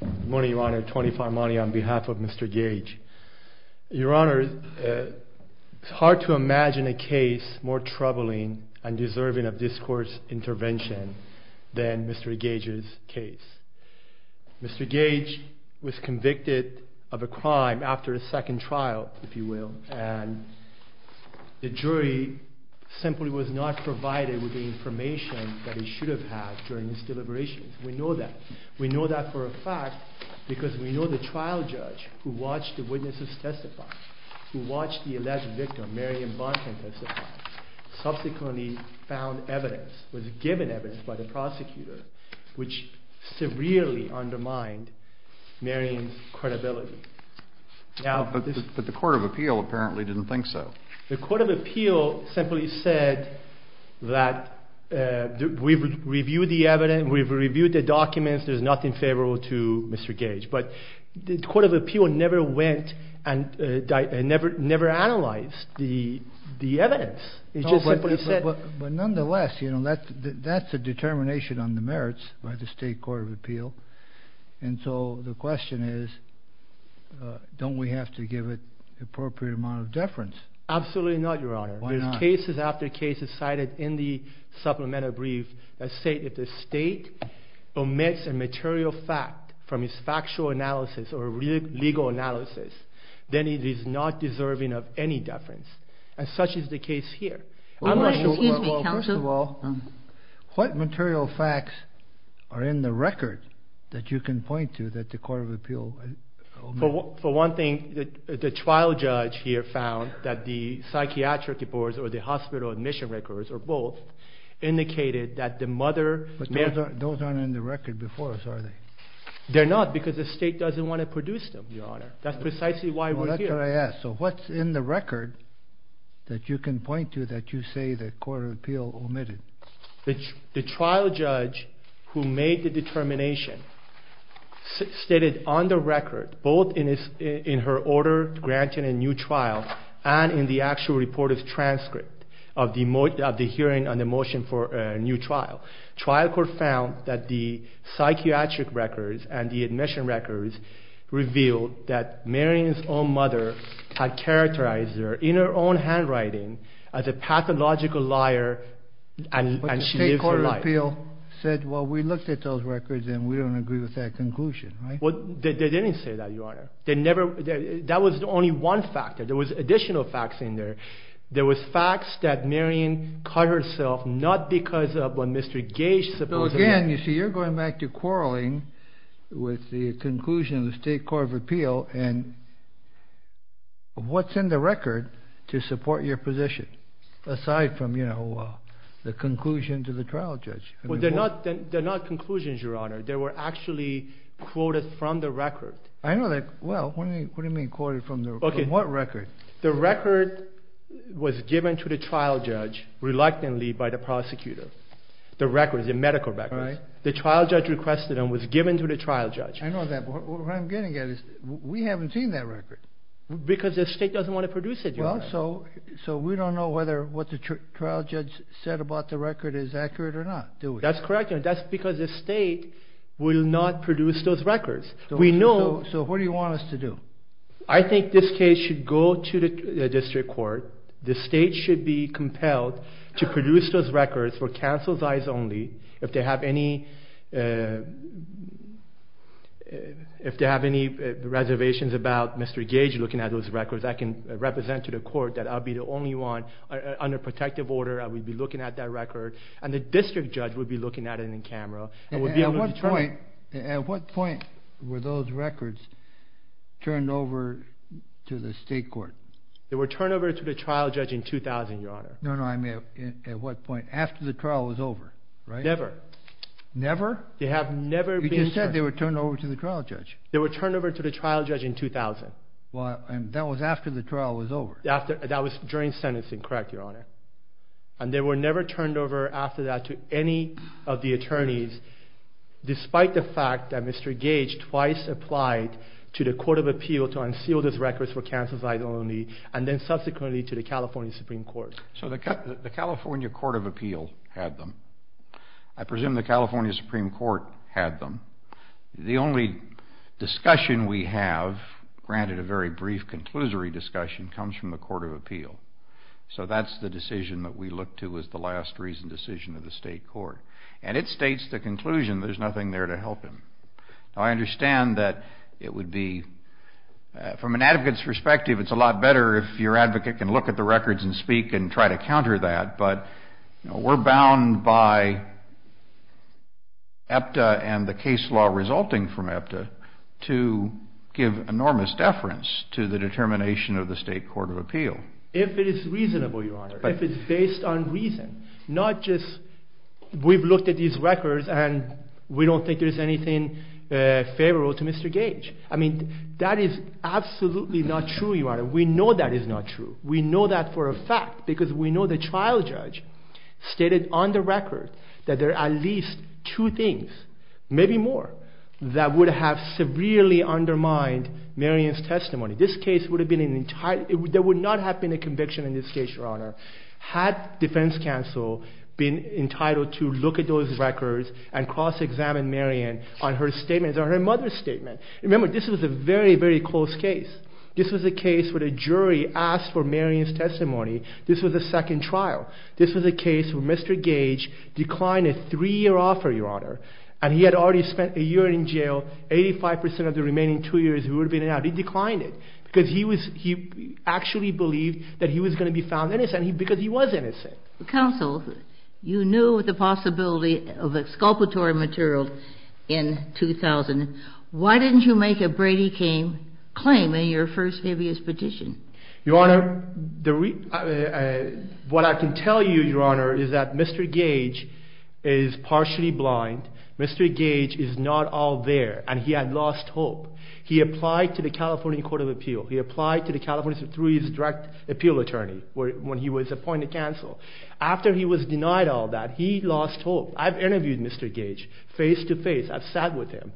Good morning, Your Honor. Tony Farmani on behalf of Mr. Gage. Your Honor, it's hard to imagine a case more troubling and deserving of discourse intervention than Mr. Gage's case. Mr. Gage was convicted of a crime after a second trial, if you will, and the jury simply was not provided with the information that he should have had during his deliberations. We know that. We know that for a fact because we know the trial judge who watched the witnesses testify, who watched the alleged victim, Marion Bonten testify, subsequently found evidence, was given evidence by the prosecutor, which severely undermined Marion's credibility. But the Court of Appeal apparently didn't think so. The Court of Appeal simply said that we've reviewed the evidence, we've reviewed the documents, there's nothing favorable to Mr. Gage, but the Court of Appeal never went and never analyzed the evidence. It just simply said... But nonetheless, you know, that's a determination on the merits by the State Court of Appeal, and so the question is, don't we have to give it the appropriate amount of deference? Absolutely not, Your Honor. Why not? There's cases after cases cited in the Supplemental Brief that say if the State omits a material fact from its factual analysis or legal analysis, then it is not deserving of any deference, and such is the case here. Well, first of all, what material facts are in the record that you can point to that the Court of Appeal... For one thing, the trial judge here found that the psychiatric reports or the hospital admission records, or both, indicated that the mother... But those aren't in the record before us, are they? They're not, because the State doesn't want to produce them, Your Honor. That's precisely why we're here. So what's in the record that you can point to that you say the Court of Appeal omitted? The trial judge who made the determination stated on the record, both in her order granting a new trial and in the actual reporter's transcript of the hearing on the motion for a new trial, trial court found that the psychiatric records and the admission records revealed that Marion's own mother had characterized her in her own handwriting as a pathological liar, and she lives her life. But the State Court of Appeal said, well, we looked at those records, and we don't agree with that conclusion, right? Well, they didn't say that, Your Honor. They never... That was only one factor. There was additional facts in there. There was facts that Marion cut herself, not because of what Mr. Gage supposedly... So again, you see, you're going back to quarreling with the conclusion of the State Court of Appeal, and what's in the record to support your position, aside from, you know, the conclusion to the trial judge? Well, they're not conclusions, Your Honor. They were actually quoted from the record. I know that. Well, what do you mean, quoted from the record? From what record? The record was given to the trial judge reluctantly by the prosecutor. The records, the medical records. Right. The trial judge requested them, was given to the trial judge. I know that, but what I'm getting at is we haven't seen that record. Because the State doesn't want to produce it, Your Honor. Well, so we don't know whether what the trial judge said about the record is accurate or not, do we? That's correct, Your Honor. That's because the State will not produce those records. We know... So what do you want us to do? I think this case should go to the district court. The State should be compelled to produce those records for counsel's eyes only. If they have any reservations about Mr. Gage looking at those records, I can represent to the court that I'll be the only one under protective order. I will be looking at that record, and the district judge will be looking at it in camera. At what point were those records turned over to the State court? They were turned over to the trial judge in 2000, Your Honor. No, no, I mean at what point? After the trial was over, right? Never. Never? They have never been... You just said they were turned over to the trial judge. They were turned over to the trial judge in 2000. Well, that was after the trial was over. That was during sentencing, correct, Your Honor. And they were never turned over after that to any of the attorneys, despite the fact that Mr. Gage twice applied to the Court of Appeal to unseal those records for counsel's eyes only, and then subsequently to the California Supreme Court. So the California Court of Appeal had them. I presume the California Supreme Court had them. The only discussion we have, granted a very brief conclusory discussion, comes from the Court of Appeal. So that's the decision that we look to as the last reasoned decision of the State court. And it states the conclusion there's nothing there to help him. Now, I understand that it would be, from an advocate's perspective, it's a lot better if your advocate can look at the records and speak and try to counter that, but we're bound by EPTA and the case law resulting from EPTA to give enormous deference to the determination of the State Court of Appeal. If it is reasonable, Your Honor, if it's based on reason, not just we've looked at these records and we don't think there's anything favorable to Mr. Gage. I mean, that is absolutely not true, Your Honor. We know that is not true. We know that for a fact because we know the trial judge stated on the record that there are at least two things, maybe more, that would have severely undermined Marion's testimony. This case would have been entirely, there would not have been a conviction in this case, Your Honor, had defense counsel been entitled to look at those records and cross-examine Marion on her statement, on her mother's statement. Remember, this was a very, very close case. This was a case where the jury asked for Marion's testimony. This was a second trial. This was a case where Mr. Gage declined a three-year offer, Your Honor, and he had already spent a year in jail. Eighty-five percent of the remaining two years he would have been in and out. He declined it because he actually believed that he was going to be found innocent because he was innocent. Counsel, you knew of the possibility of exculpatory material in 2000. Why didn't you make a Brady King claim in your first habeas petition? Your Honor, what I can tell you, Your Honor, is that Mr. Gage is partially blind. Mr. Gage is not all there, and he had lost hope. He applied to the California Court of Appeal. He applied to the California Supreme Court's direct appeal attorney when he was appointed counsel. After he was denied all that, he lost hope. I've interviewed Mr. Gage face-to-face. I've sat with him,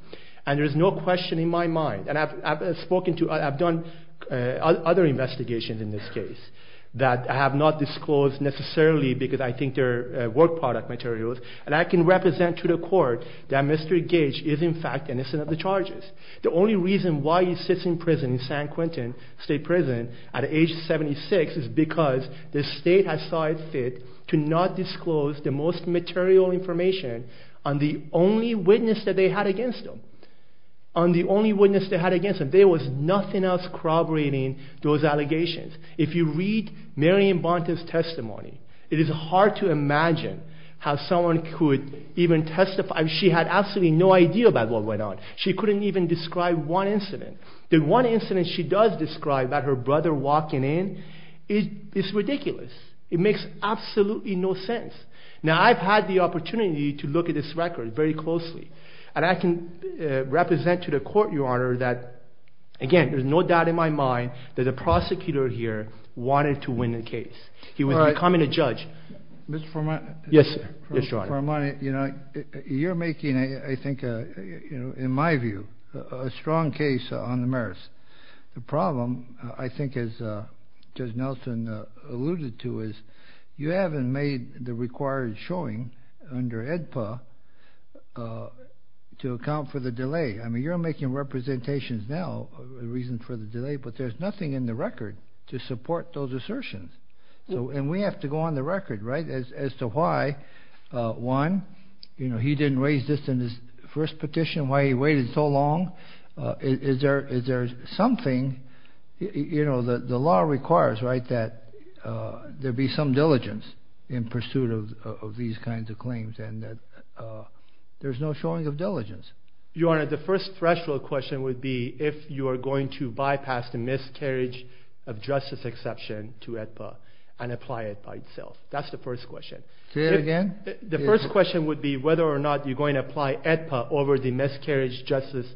and there's no question in my mind, and I've spoken to, I've done other investigations in this case that have not disclosed necessarily because I think they're work product materials, and I can represent to the court that Mr. Gage is in fact innocent of the charges. The only reason why he sits in prison, in San Quentin State Prison, at age 76, is because the state has saw it fit to not disclose the most material information on the only witness that they had against him. On the only witness they had against him. There was nothing else corroborating those allegations. If you read Marion Bonta's testimony, it is hard to imagine how someone could even testify. She had absolutely no idea about what went on. She couldn't even describe one incident. The one incident she does describe, about her brother walking in, is ridiculous. It makes absolutely no sense. Now, I've had the opportunity to look at this record very closely, and I can represent to the court, Your Honor, that, again, there's no doubt in my mind that the prosecutor here wanted to win the case. He was becoming a judge. Mr. Formani. Yes, Your Honor. Mr. Formani, you're making, I think, in my view, a strong case on the merits. The problem, I think, as Judge Nelson alluded to, is you haven't made the required showing under AEDPA to account for the delay. I mean, you're making representations now of the reasons for the delay, but there's nothing in the record to support those assertions. And we have to go on the record as to why, one, he didn't raise this in his first petition, why he waited so long. Is there something? The law requires that there be some diligence in pursuit of these kinds of claims, and there's no showing of diligence. Your Honor, the first threshold question would be if you are going to bypass the miscarriage of justice exception to AEDPA and apply it by itself. That's the first question. Say it again. The first question would be whether or not you're going to apply AEDPA over the miscarriage of justice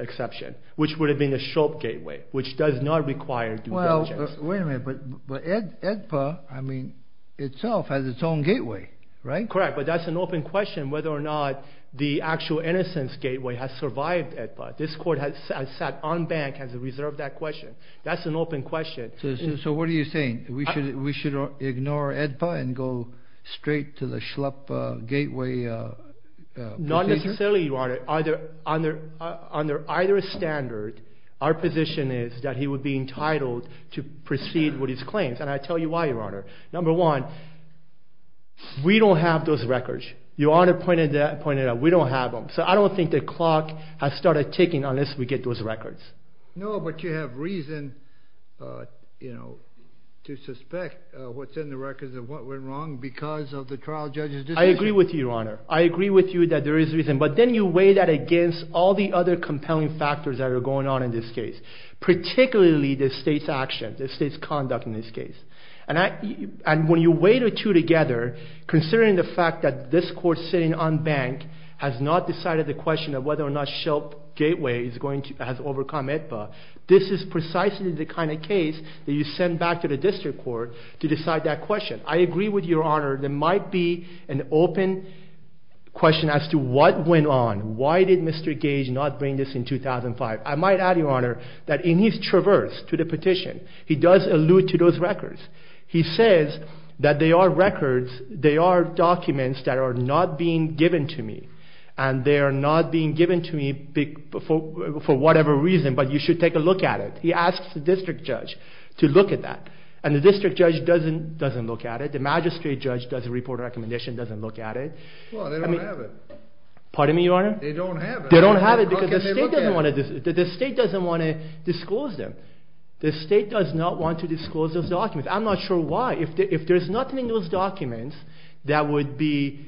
exception, which would have been a SHOP gateway, which does not require due diligence. Well, wait a minute. But AEDPA, I mean, itself has its own gateway, right? Correct. But that's an open question whether or not the actual innocence gateway has survived AEDPA. This Court has sat on bank and has reserved that question. That's an open question. So what are you saying? We should ignore AEDPA and go straight to the SHLAP gateway? Not necessarily, Your Honor. Under either standard, our position is that he would be entitled to proceed with his claims, and I'll tell you why, Your Honor. Number one, we don't have those records. Your Honor pointed out we don't have them. So I don't think the clock has started ticking unless we get those records. No, but you have reason to suspect within the records of what went wrong because of the trial judge's decision. I agree with you, Your Honor. I agree with you that there is reason. But then you weigh that against all the other compelling factors that are going on in this case, particularly the state's action, the state's conduct in this case. And when you weigh the two together, considering the fact that this Court sitting on bank has not decided the question of whether or not SHLAP gateway has overcome AEDPA, this is precisely the kind of case that you send back to the district court to decide that question. I agree with you, Your Honor. There might be an open question as to what went on. Why did Mr. Gage not bring this in 2005? I might add, Your Honor, that in his traverse to the petition, he does allude to those records. He says that they are records, they are documents that are not being given to me, and they are not being given to me for whatever reason, but you should take a look at it. He asks the district judge to look at that. And the district judge doesn't look at it. The magistrate judge doesn't report a recommendation, doesn't look at it. Well, they don't have it. Pardon me, Your Honor? They don't have it. They don't have it because the state doesn't want to disclose them. The state does not want to disclose those documents. I'm not sure why. If there's nothing in those documents that would be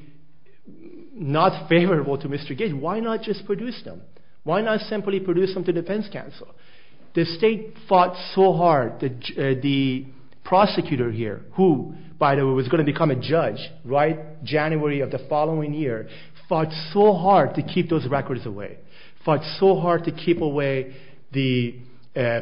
not favorable to Mr. Gage, why not just produce them? Why not simply produce them to defense counsel? The state fought so hard. The prosecutor here, who, by the way, was going to become a judge January of the following year, fought so hard to keep those records away, fought so hard to keep away the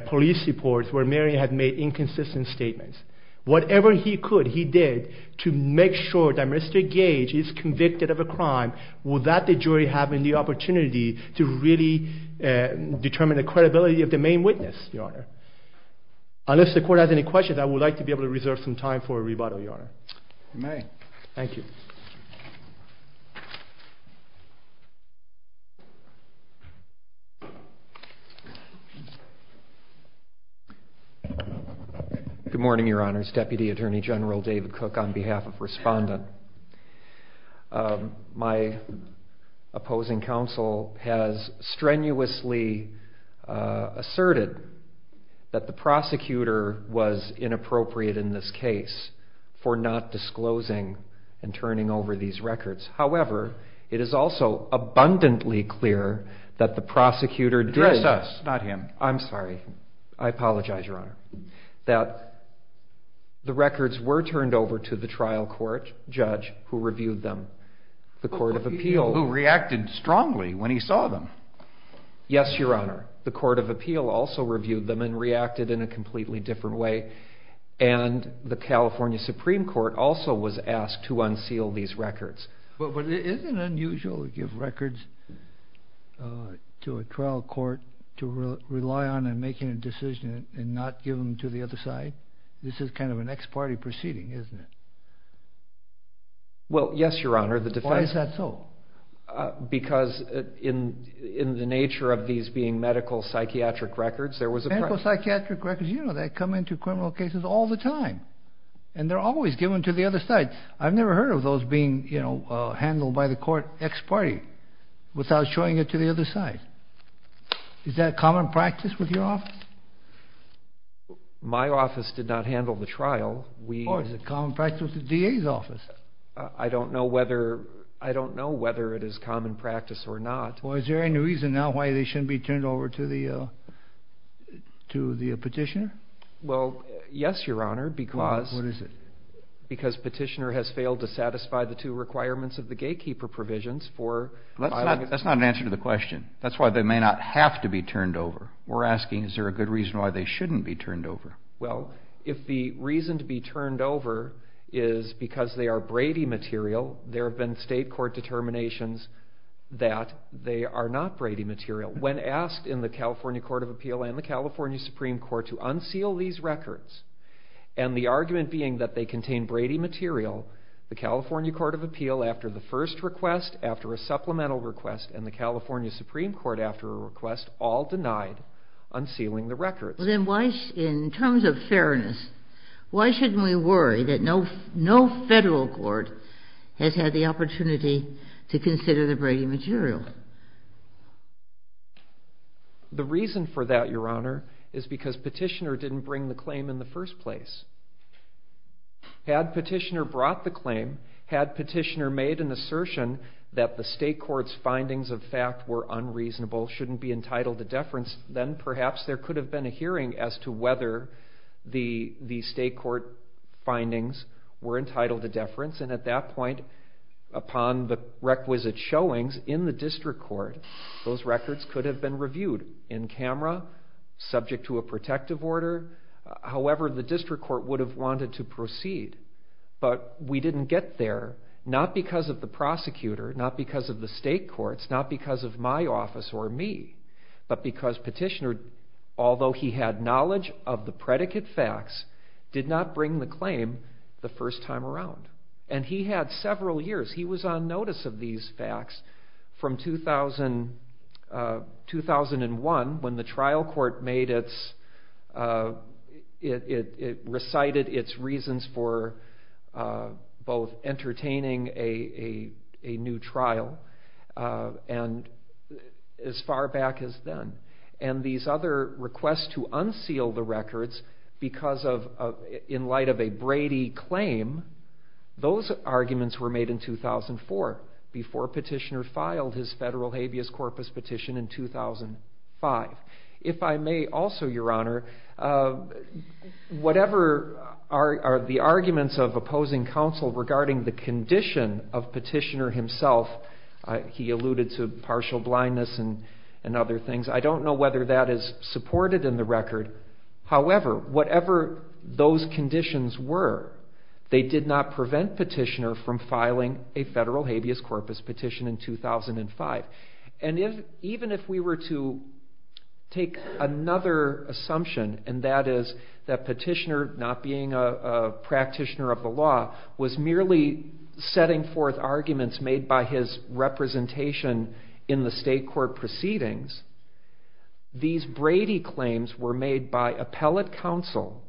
police reports where Marion had made inconsistent statements. Whatever he could, he did to make sure that Mr. Gage is convicted of a crime without the jury having the opportunity to really determine the credibility of the main witness, Your Honor. Unless the court has any questions, I would like to be able to reserve some time for a rebuttal, Your Honor. You may. Thank you. Good morning, Your Honors. Deputy Attorney General David Cook on behalf of Respondent. My opposing counsel has strenuously asserted that the prosecutor was inappropriate in this case for not disclosing and turning over these records. However, it is also abundantly clear that the prosecutor did. Address us, not him. I'm sorry. I apologize, Your Honor. That the records were turned over to the trial court judge who reviewed them. The Court of Appeal. Who reacted strongly when he saw them. Yes, Your Honor. The Court of Appeal also reviewed them and reacted in a completely different way. And the California Supreme Court also was asked to unseal these records. But isn't it unusual to give records to a trial court to rely on in making a decision and not give them to the other side? This is kind of an ex parte proceeding, isn't it? Well, yes, Your Honor. Why is that so? Because in the nature of these being medical psychiatric records, there was a... Psychiatric records, you know that, come into criminal cases all the time. And they're always given to the other side. I've never heard of those being handled by the court ex parte without showing it to the other side. Is that common practice with your office? My office did not handle the trial. Or is it common practice with the DA's office? I don't know whether it is common practice or not. Well, is there any reason now why they shouldn't be turned over to the petitioner? Well, yes, Your Honor, because... What is it? Because petitioner has failed to satisfy the two requirements of the gatekeeper provisions for... That's not an answer to the question. That's why they may not have to be turned over. We're asking is there a good reason why they shouldn't be turned over? Well, if the reason to be turned over is because they are Brady material, there have been state court determinations that they are not Brady material. When asked in the California Court of Appeal and the California Supreme Court to unseal these records, and the argument being that they contain Brady material, the California Court of Appeal, after the first request, after a supplemental request, and the California Supreme Court, after a request, all denied unsealing the records. Well, then why, in terms of fairness, why shouldn't we worry that no federal court has had the opportunity to consider the Brady material? The reason for that, Your Honor, is because petitioner didn't bring the claim in the first place. Had petitioner brought the claim, had petitioner made an assertion that the state court's findings of fact were unreasonable, shouldn't be entitled to deference, then perhaps there could have been a hearing as to whether the state court findings were entitled to deference. And at that point, upon the requisite showings in the district court, those records could have been reviewed in camera, subject to a protective order. However, the district court would have wanted to proceed. But we didn't get there, not because of the prosecutor, not because of the state courts, not because of my office or me, but because petitioner, although he had knowledge of the predicate facts, did not bring the claim the first time around. And he had several years, he was on notice of these facts from 2001, when the trial court recited its reasons for both entertaining a new trial and as far back as then. And these other requests to unseal the records because of, in light of a Brady claim, those arguments were made in 2004, before petitioner filed his federal habeas corpus petition in 2005. If I may also, Your Honor, whatever are the arguments of opposing counsel regarding the condition of petitioner himself, he alluded to partial blindness and other things, I don't know whether that is supported in the record. However, whatever those conditions were, they did not prevent petitioner from filing a federal habeas corpus petition in 2005. And even if we were to take another assumption, and that is that petitioner, not being a practitioner of the law, was merely setting forth arguments made by his representation in the state court proceedings, these Brady claims were made by appellate counsel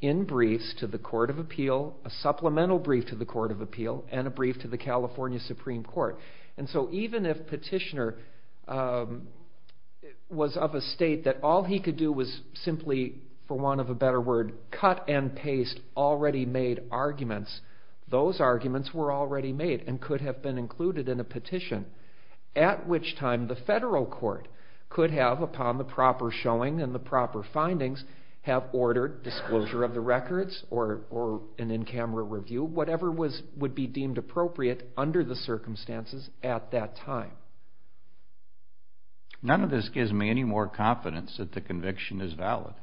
in briefs to the Court of Appeal, a supplemental brief to the Court of Appeal, and a brief to the California Supreme Court. And so even if petitioner was of a state that all he could do was simply, for want of a better word, cut and paste already made arguments, those arguments were already made and could have been included in a petition. At which time the federal court could have, upon the proper showing and the proper findings, have ordered disclosure of the records or an in-camera review, whatever would be deemed appropriate under the circumstances at that time. None of this gives me any more confidence that the conviction is valid.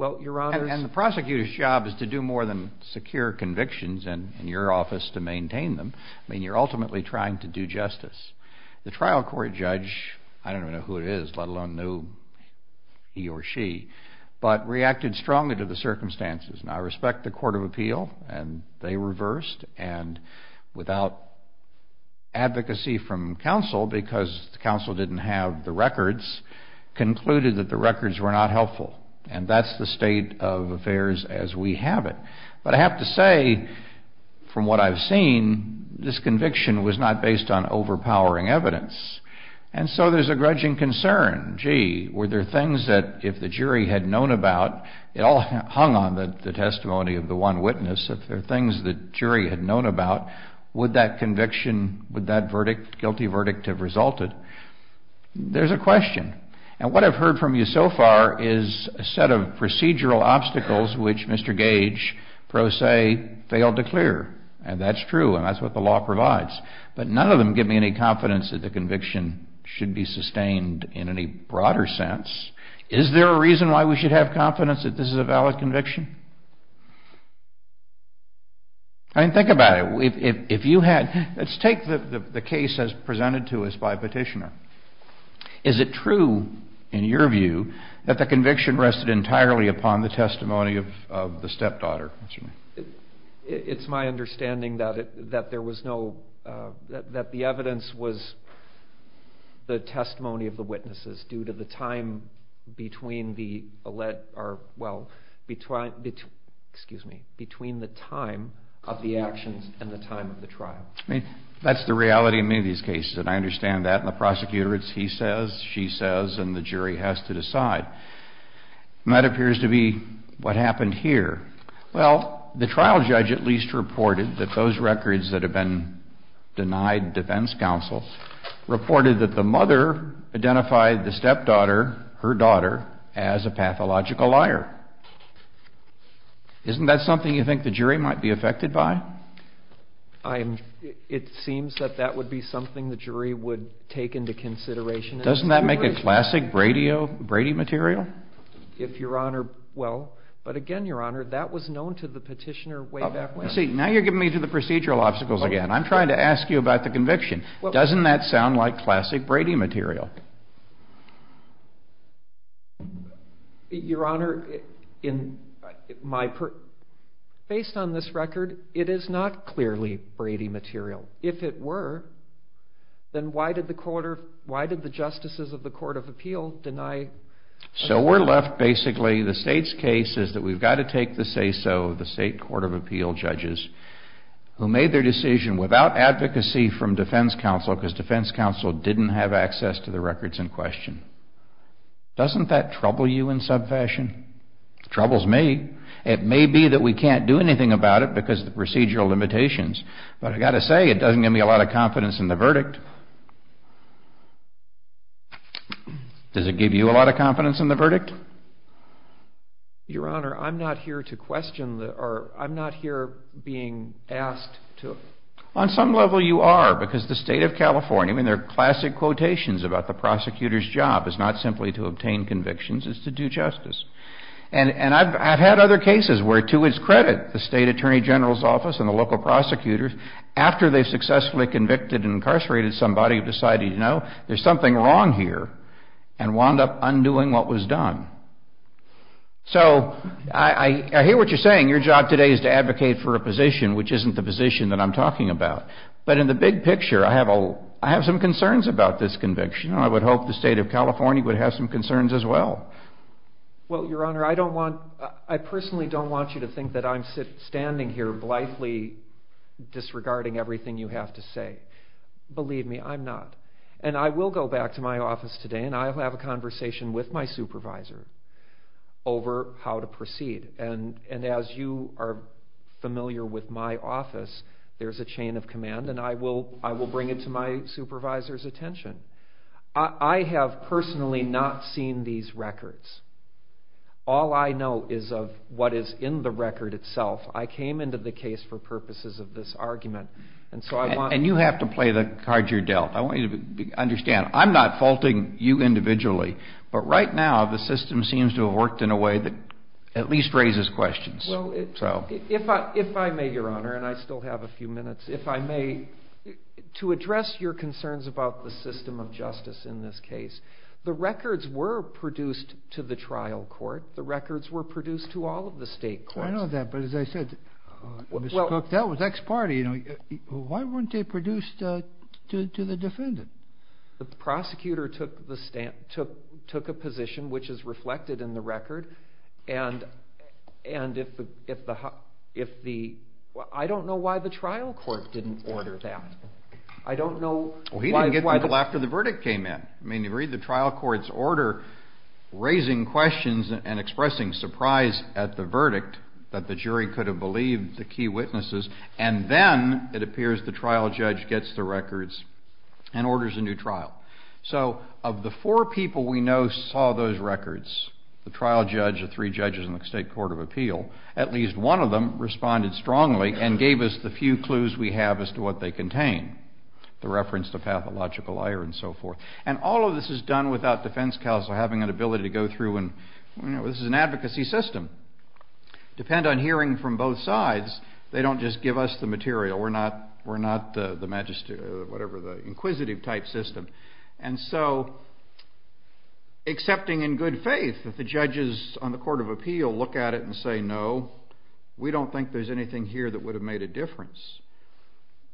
And the prosecutor's job is to do more than secure convictions in your office to maintain them. I mean, you're ultimately trying to do justice. The trial court judge, I don't even know who it is, let alone knew he or she, but reacted strongly to the circumstances. And I respect the Court of Appeal, and they reversed, and without advocacy from counsel, because the counsel didn't have the records, concluded that the records were not helpful. And that's the state of affairs as we have it. But I have to say, from what I've seen, this conviction was not based on overpowering evidence. And so there's a grudging concern. Gee, were there things that if the jury had known about, it all hung on the testimony of the one witness, if there were things the jury had known about, would that conviction, would that verdict, guilty verdict have resulted? There's a question. And what I've heard from you so far is a set of procedural obstacles which Mr. Gage, pro se, failed to clear. And that's true, and that's what the law provides. But none of them give me any confidence that the conviction should be sustained in any broader sense. Is there a reason why we should have confidence that this is a valid conviction? I mean, think about it. If you had, let's take the case as presented to us by a petitioner. Is it true, in your view, that the conviction rested entirely upon the testimony of the stepdaughter? It's my understanding that there was no, that the evidence was the testimony of the witnesses due to the time between the, excuse me, between the time of the actions and the time of the trial. I mean, that's the reality in many of these cases, and I understand that. And the prosecutor, it's he says, she says, and the jury has to decide. And that appears to be what happened here. Well, the trial judge at least reported that those records that have been denied defense counsel reported that the mother identified the stepdaughter, her daughter, as a pathological liar. Isn't that something you think the jury might be affected by? It seems that that would be something the jury would take into consideration. Doesn't that make a classic Brady material? If Your Honor, well, but again, Your Honor, that was known to the petitioner way back when. See, now you're giving me to the procedural obstacles again. I'm trying to ask you about the conviction. Doesn't that sound like classic Brady material? Your Honor, in my, based on this record, it is not clearly Brady material. If it were, then why did the court of, why did the justices of the Court of Appeal deny? So we're left basically, the state's case is that we've got to take the say-so of the state Court of Appeal judges who made their decision without advocacy from defense counsel, because defense counsel didn't have access to the records in question. Doesn't that trouble you in some fashion? It troubles me. It may be that we can't do anything about it because of the procedural limitations, but I've got to say, it doesn't give me a lot of confidence in the verdict. Does it give you a lot of confidence in the verdict? Your Honor, I'm not here to question the, or I'm not here being asked to. On some level you are, because the state of California, I mean there are classic quotations about the prosecutor's job is not simply to obtain convictions, it's to do justice. And I've had other cases where, to its credit, the state attorney general's office and the local prosecutors, after they've successfully convicted and incarcerated somebody, have decided, you know, there's something wrong here, and wound up undoing what was done. So I hear what you're saying. Your job today is to advocate for a position which isn't the position that I'm talking about. But in the big picture, I have some concerns about this conviction. I would hope the state of California would have some concerns as well. Well, Your Honor, I personally don't want you to think that I'm standing here blithely disregarding everything you have to say. Believe me, I'm not. And I will go back to my office today and I will have a conversation with my supervisor over how to proceed. And as you are familiar with my office, there's a chain of command, and I will bring it to my supervisor's attention. I have personally not seen these records. All I know is of what is in the record itself. I came into the case for purposes of this argument. And you have to play the card you're dealt. I want you to understand, I'm not faulting you individually. But right now, the system seems to have worked in a way that at least raises questions. Well, if I may, Your Honor, and I still have a few minutes. If I may, to address your concerns about the system of justice in this case, the records were produced to the trial court. The records were produced to all of the state courts. I know that, but as I said, Mr. Cook, that was ex parte. Why weren't they produced to the defendant? The prosecutor took a position which is reflected in the record, and if the – I don't know why the trial court didn't order that. I don't know why – Well, he didn't get to it until after the verdict came in. I mean, you read the trial court's order, raising questions and expressing surprise at the verdict that the jury could have believed the key witnesses, and then it appears the trial judge gets the records and orders a new trial. So of the four people we know saw those records, the trial judge, the three judges in the state court of appeal, at least one of them responded strongly and gave us the few clues we have as to what they contain, the reference to pathological error and so forth. And all of this is done without defense counsel having an ability to go through and – you know, this is an advocacy system. Depend on hearing from both sides. They don't just give us the material. We're not the inquisitive type system. And so accepting in good faith that the judges on the court of appeal look at it and say, no, we don't think there's anything here that would have made a difference,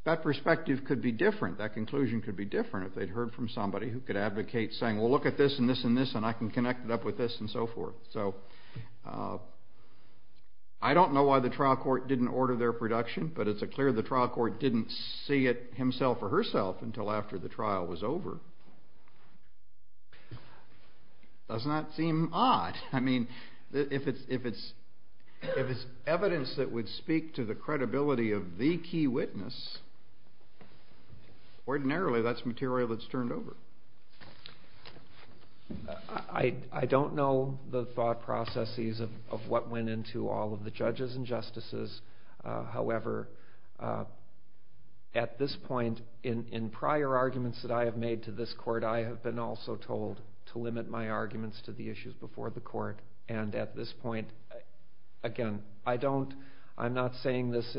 that perspective could be different. That conclusion could be different if they'd heard from somebody who could advocate saying, well, look at this and this and this, and I can connect it up with this and so forth. So I don't know why the trial court didn't order their production, but it's clear the trial court didn't see it himself or herself until after the trial was over. Doesn't that seem odd? I mean, if it's evidence that would speak to the credibility of the key witness, ordinarily that's material that's turned over. I don't know the thought processes of what went into all of the judges and justices. However, at this point, in prior arguments that I have made to this court, I have been also told to limit my arguments to the issues before the court. And at this point, again, I don't – I'm not saying this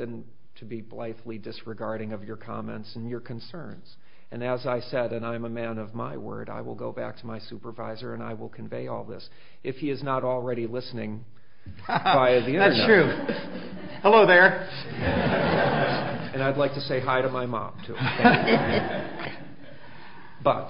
to be blithely disregarding of your comments and your concerns. And as I said, and I'm a man of my word, I will go back to my supervisor and I will convey all this. If he is not already listening via the Internet. That's true. Hello there. And I'd like to say hi to my mom, too. But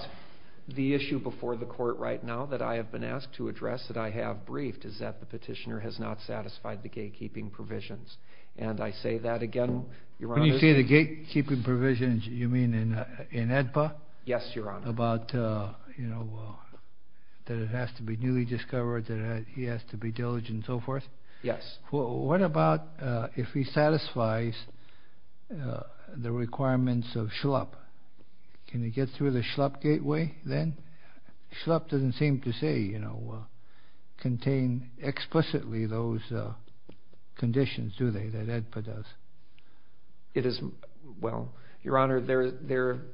the issue before the court right now that I have been asked to address, that I have briefed, is that the petitioner has not satisfied the gatekeeping provisions. And I say that again, Your Honor. When you say the gatekeeping provisions, you mean in AEDPA? Yes, Your Honor. About, you know, that it has to be newly discovered, that he has to be diligent and so forth? Yes. What about if he satisfies the requirements of SHLUP? Can he get through the SHLUP gateway then? SHLUP doesn't seem to say, you know, contain explicitly those conditions, do they, that AEDPA does? It is – well, Your Honor, there –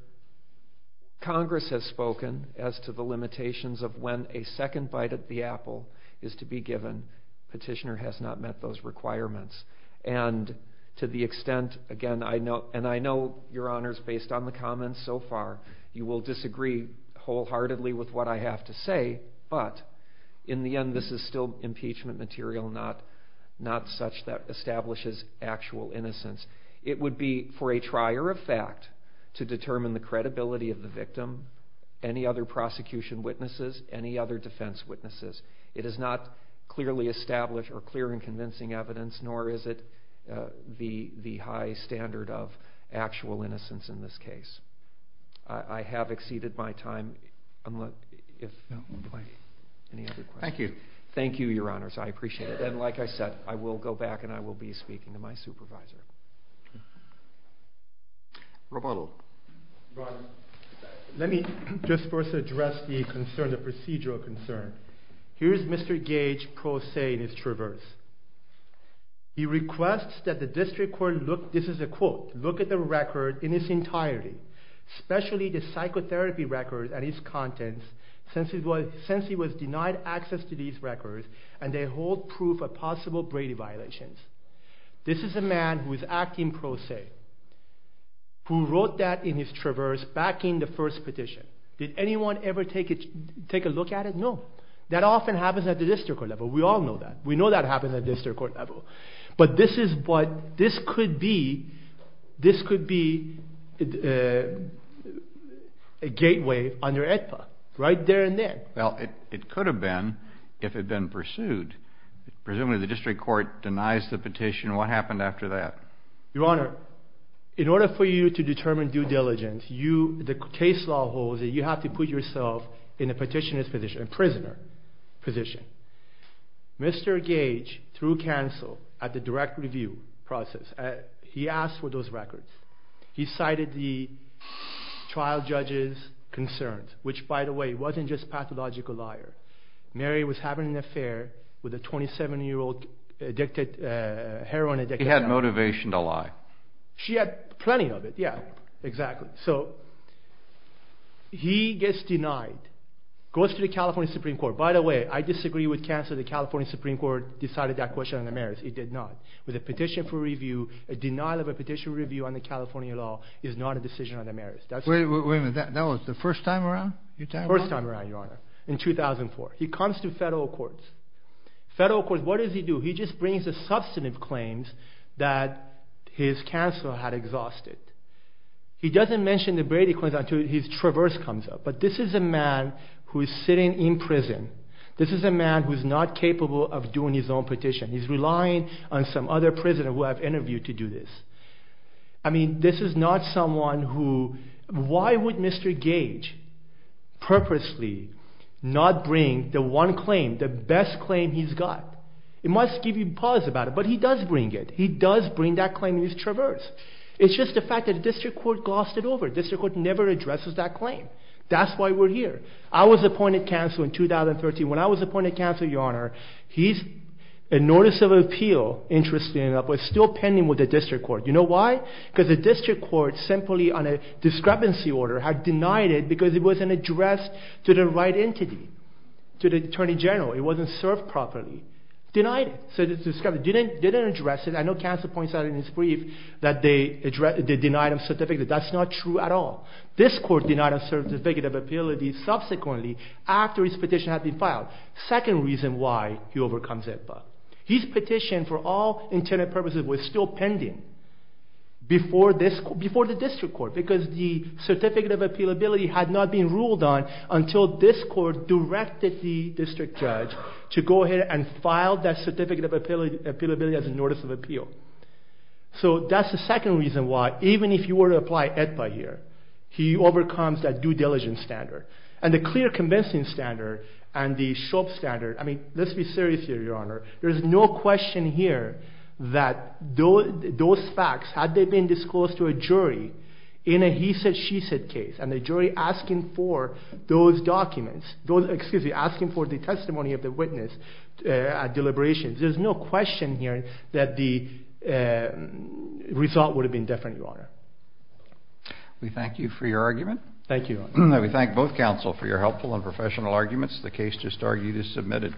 Congress has spoken as to the limitations of when a second bite at the apple is to be given. Petitioner has not met those requirements. And to the extent, again, I know – and I know, Your Honors, based on the comments so far, you will disagree wholeheartedly with what I have to say, but in the end this is still impeachment material, not such that establishes actual innocence. It would be for a trier of fact to determine the credibility of the victim, any other prosecution witnesses, any other defense witnesses. It is not clearly established or clear in convincing evidence, nor is it the high standard of actual innocence in this case. I have exceeded my time. Thank you. Thank you, Your Honors. I appreciate it. And like I said, I will go back and I will be speaking to my supervisor. Roberto. Your Honor, let me just first address the concern, the procedural concern. Here is Mr. Gage pro se in his traverse. He requests that the district court look – this is a quote – look at the record in its entirety, especially the psychotherapy records and its contents, since he was denied access to these records and they hold proof of possible Brady violations. This is a man who is acting pro se, who wrote that in his traverse backing the first petition. Did anyone ever take a look at it? No. That often happens at the district court level. We all know that. We know that happens at the district court level. But this is what – this could be – this could be a gateway under AEDPA right there and then. Well, it could have been if it had been pursued. Presumably the district court denies the petition. What happened after that? Your Honor, in order for you to determine due diligence, the case law holds that you have to put yourself in a petitioner's position, a prisoner position. Mr. Gage threw counsel at the direct review process. He asked for those records. He cited the trial judge's concerns, which, by the way, wasn't just pathological liar. Mary was having an affair with a 27-year-old heroin addict. He had motivation to lie. She had plenty of it, yeah, exactly. So he gets denied, goes to the California Supreme Court. By the way, I disagree with counsel that the California Supreme Court decided that question under merits. It did not. With a petition for review, a denial of a petition review under California law is not a decision under merits. Wait a minute. That was the first time around? First time around, Your Honor, in 2004. He comes to federal courts. Federal courts, what does he do? He just brings the substantive claims that his counsel had exhausted. He doesn't mention the Brady claims until his traverse comes up. But this is a man who is sitting in prison. This is a man who is not capable of doing his own petition. He's relying on some other prisoner who I've interviewed to do this. I mean, this is not someone who, why would Mr. Gage purposely not bring the one claim, the best claim he's got? It must give you pause about it, but he does bring it. He does bring that claim in his traverse. It's just the fact that the district court glossed it over. The district court never addresses that claim. That's why we're here. I was appointed counsel in 2013. When I was appointed counsel, Your Honor, he's a notice of appeal, interestingly enough, but still pending with the district court. You know why? Because the district court, simply on a discrepancy order, had denied it because it wasn't addressed to the right entity, to the attorney general. It wasn't served properly. Denied it. Said it's discrepancy. Didn't address it. I know counsel points out in his brief that they denied him certificate. That's not true at all. This court denied him certificate of appeal subsequently after his petition had been filed. Second reason why he overcomes IFA. His petition for all intended purposes was still pending before the district court because the certificate of appealability had not been ruled on until this court directed the district judge to go ahead and file that certificate of appealability as a notice of appeal. So that's the second reason why, even if you were to apply IFA here, he overcomes that due diligence standard. And the clear convincing standard and the SHOP standard, I mean, let's be serious here, Your Honor. There's no question here that those facts, had they been disclosed to a jury in a he said, she said case, and the jury asking for those documents, excuse me, asking for the testimony of the witness at deliberations, there's no question here that the result would have been different, Your Honor. We thank you for your argument. Thank you. We thank both counsel for your helpful and professional arguments. The case just argued is submitted.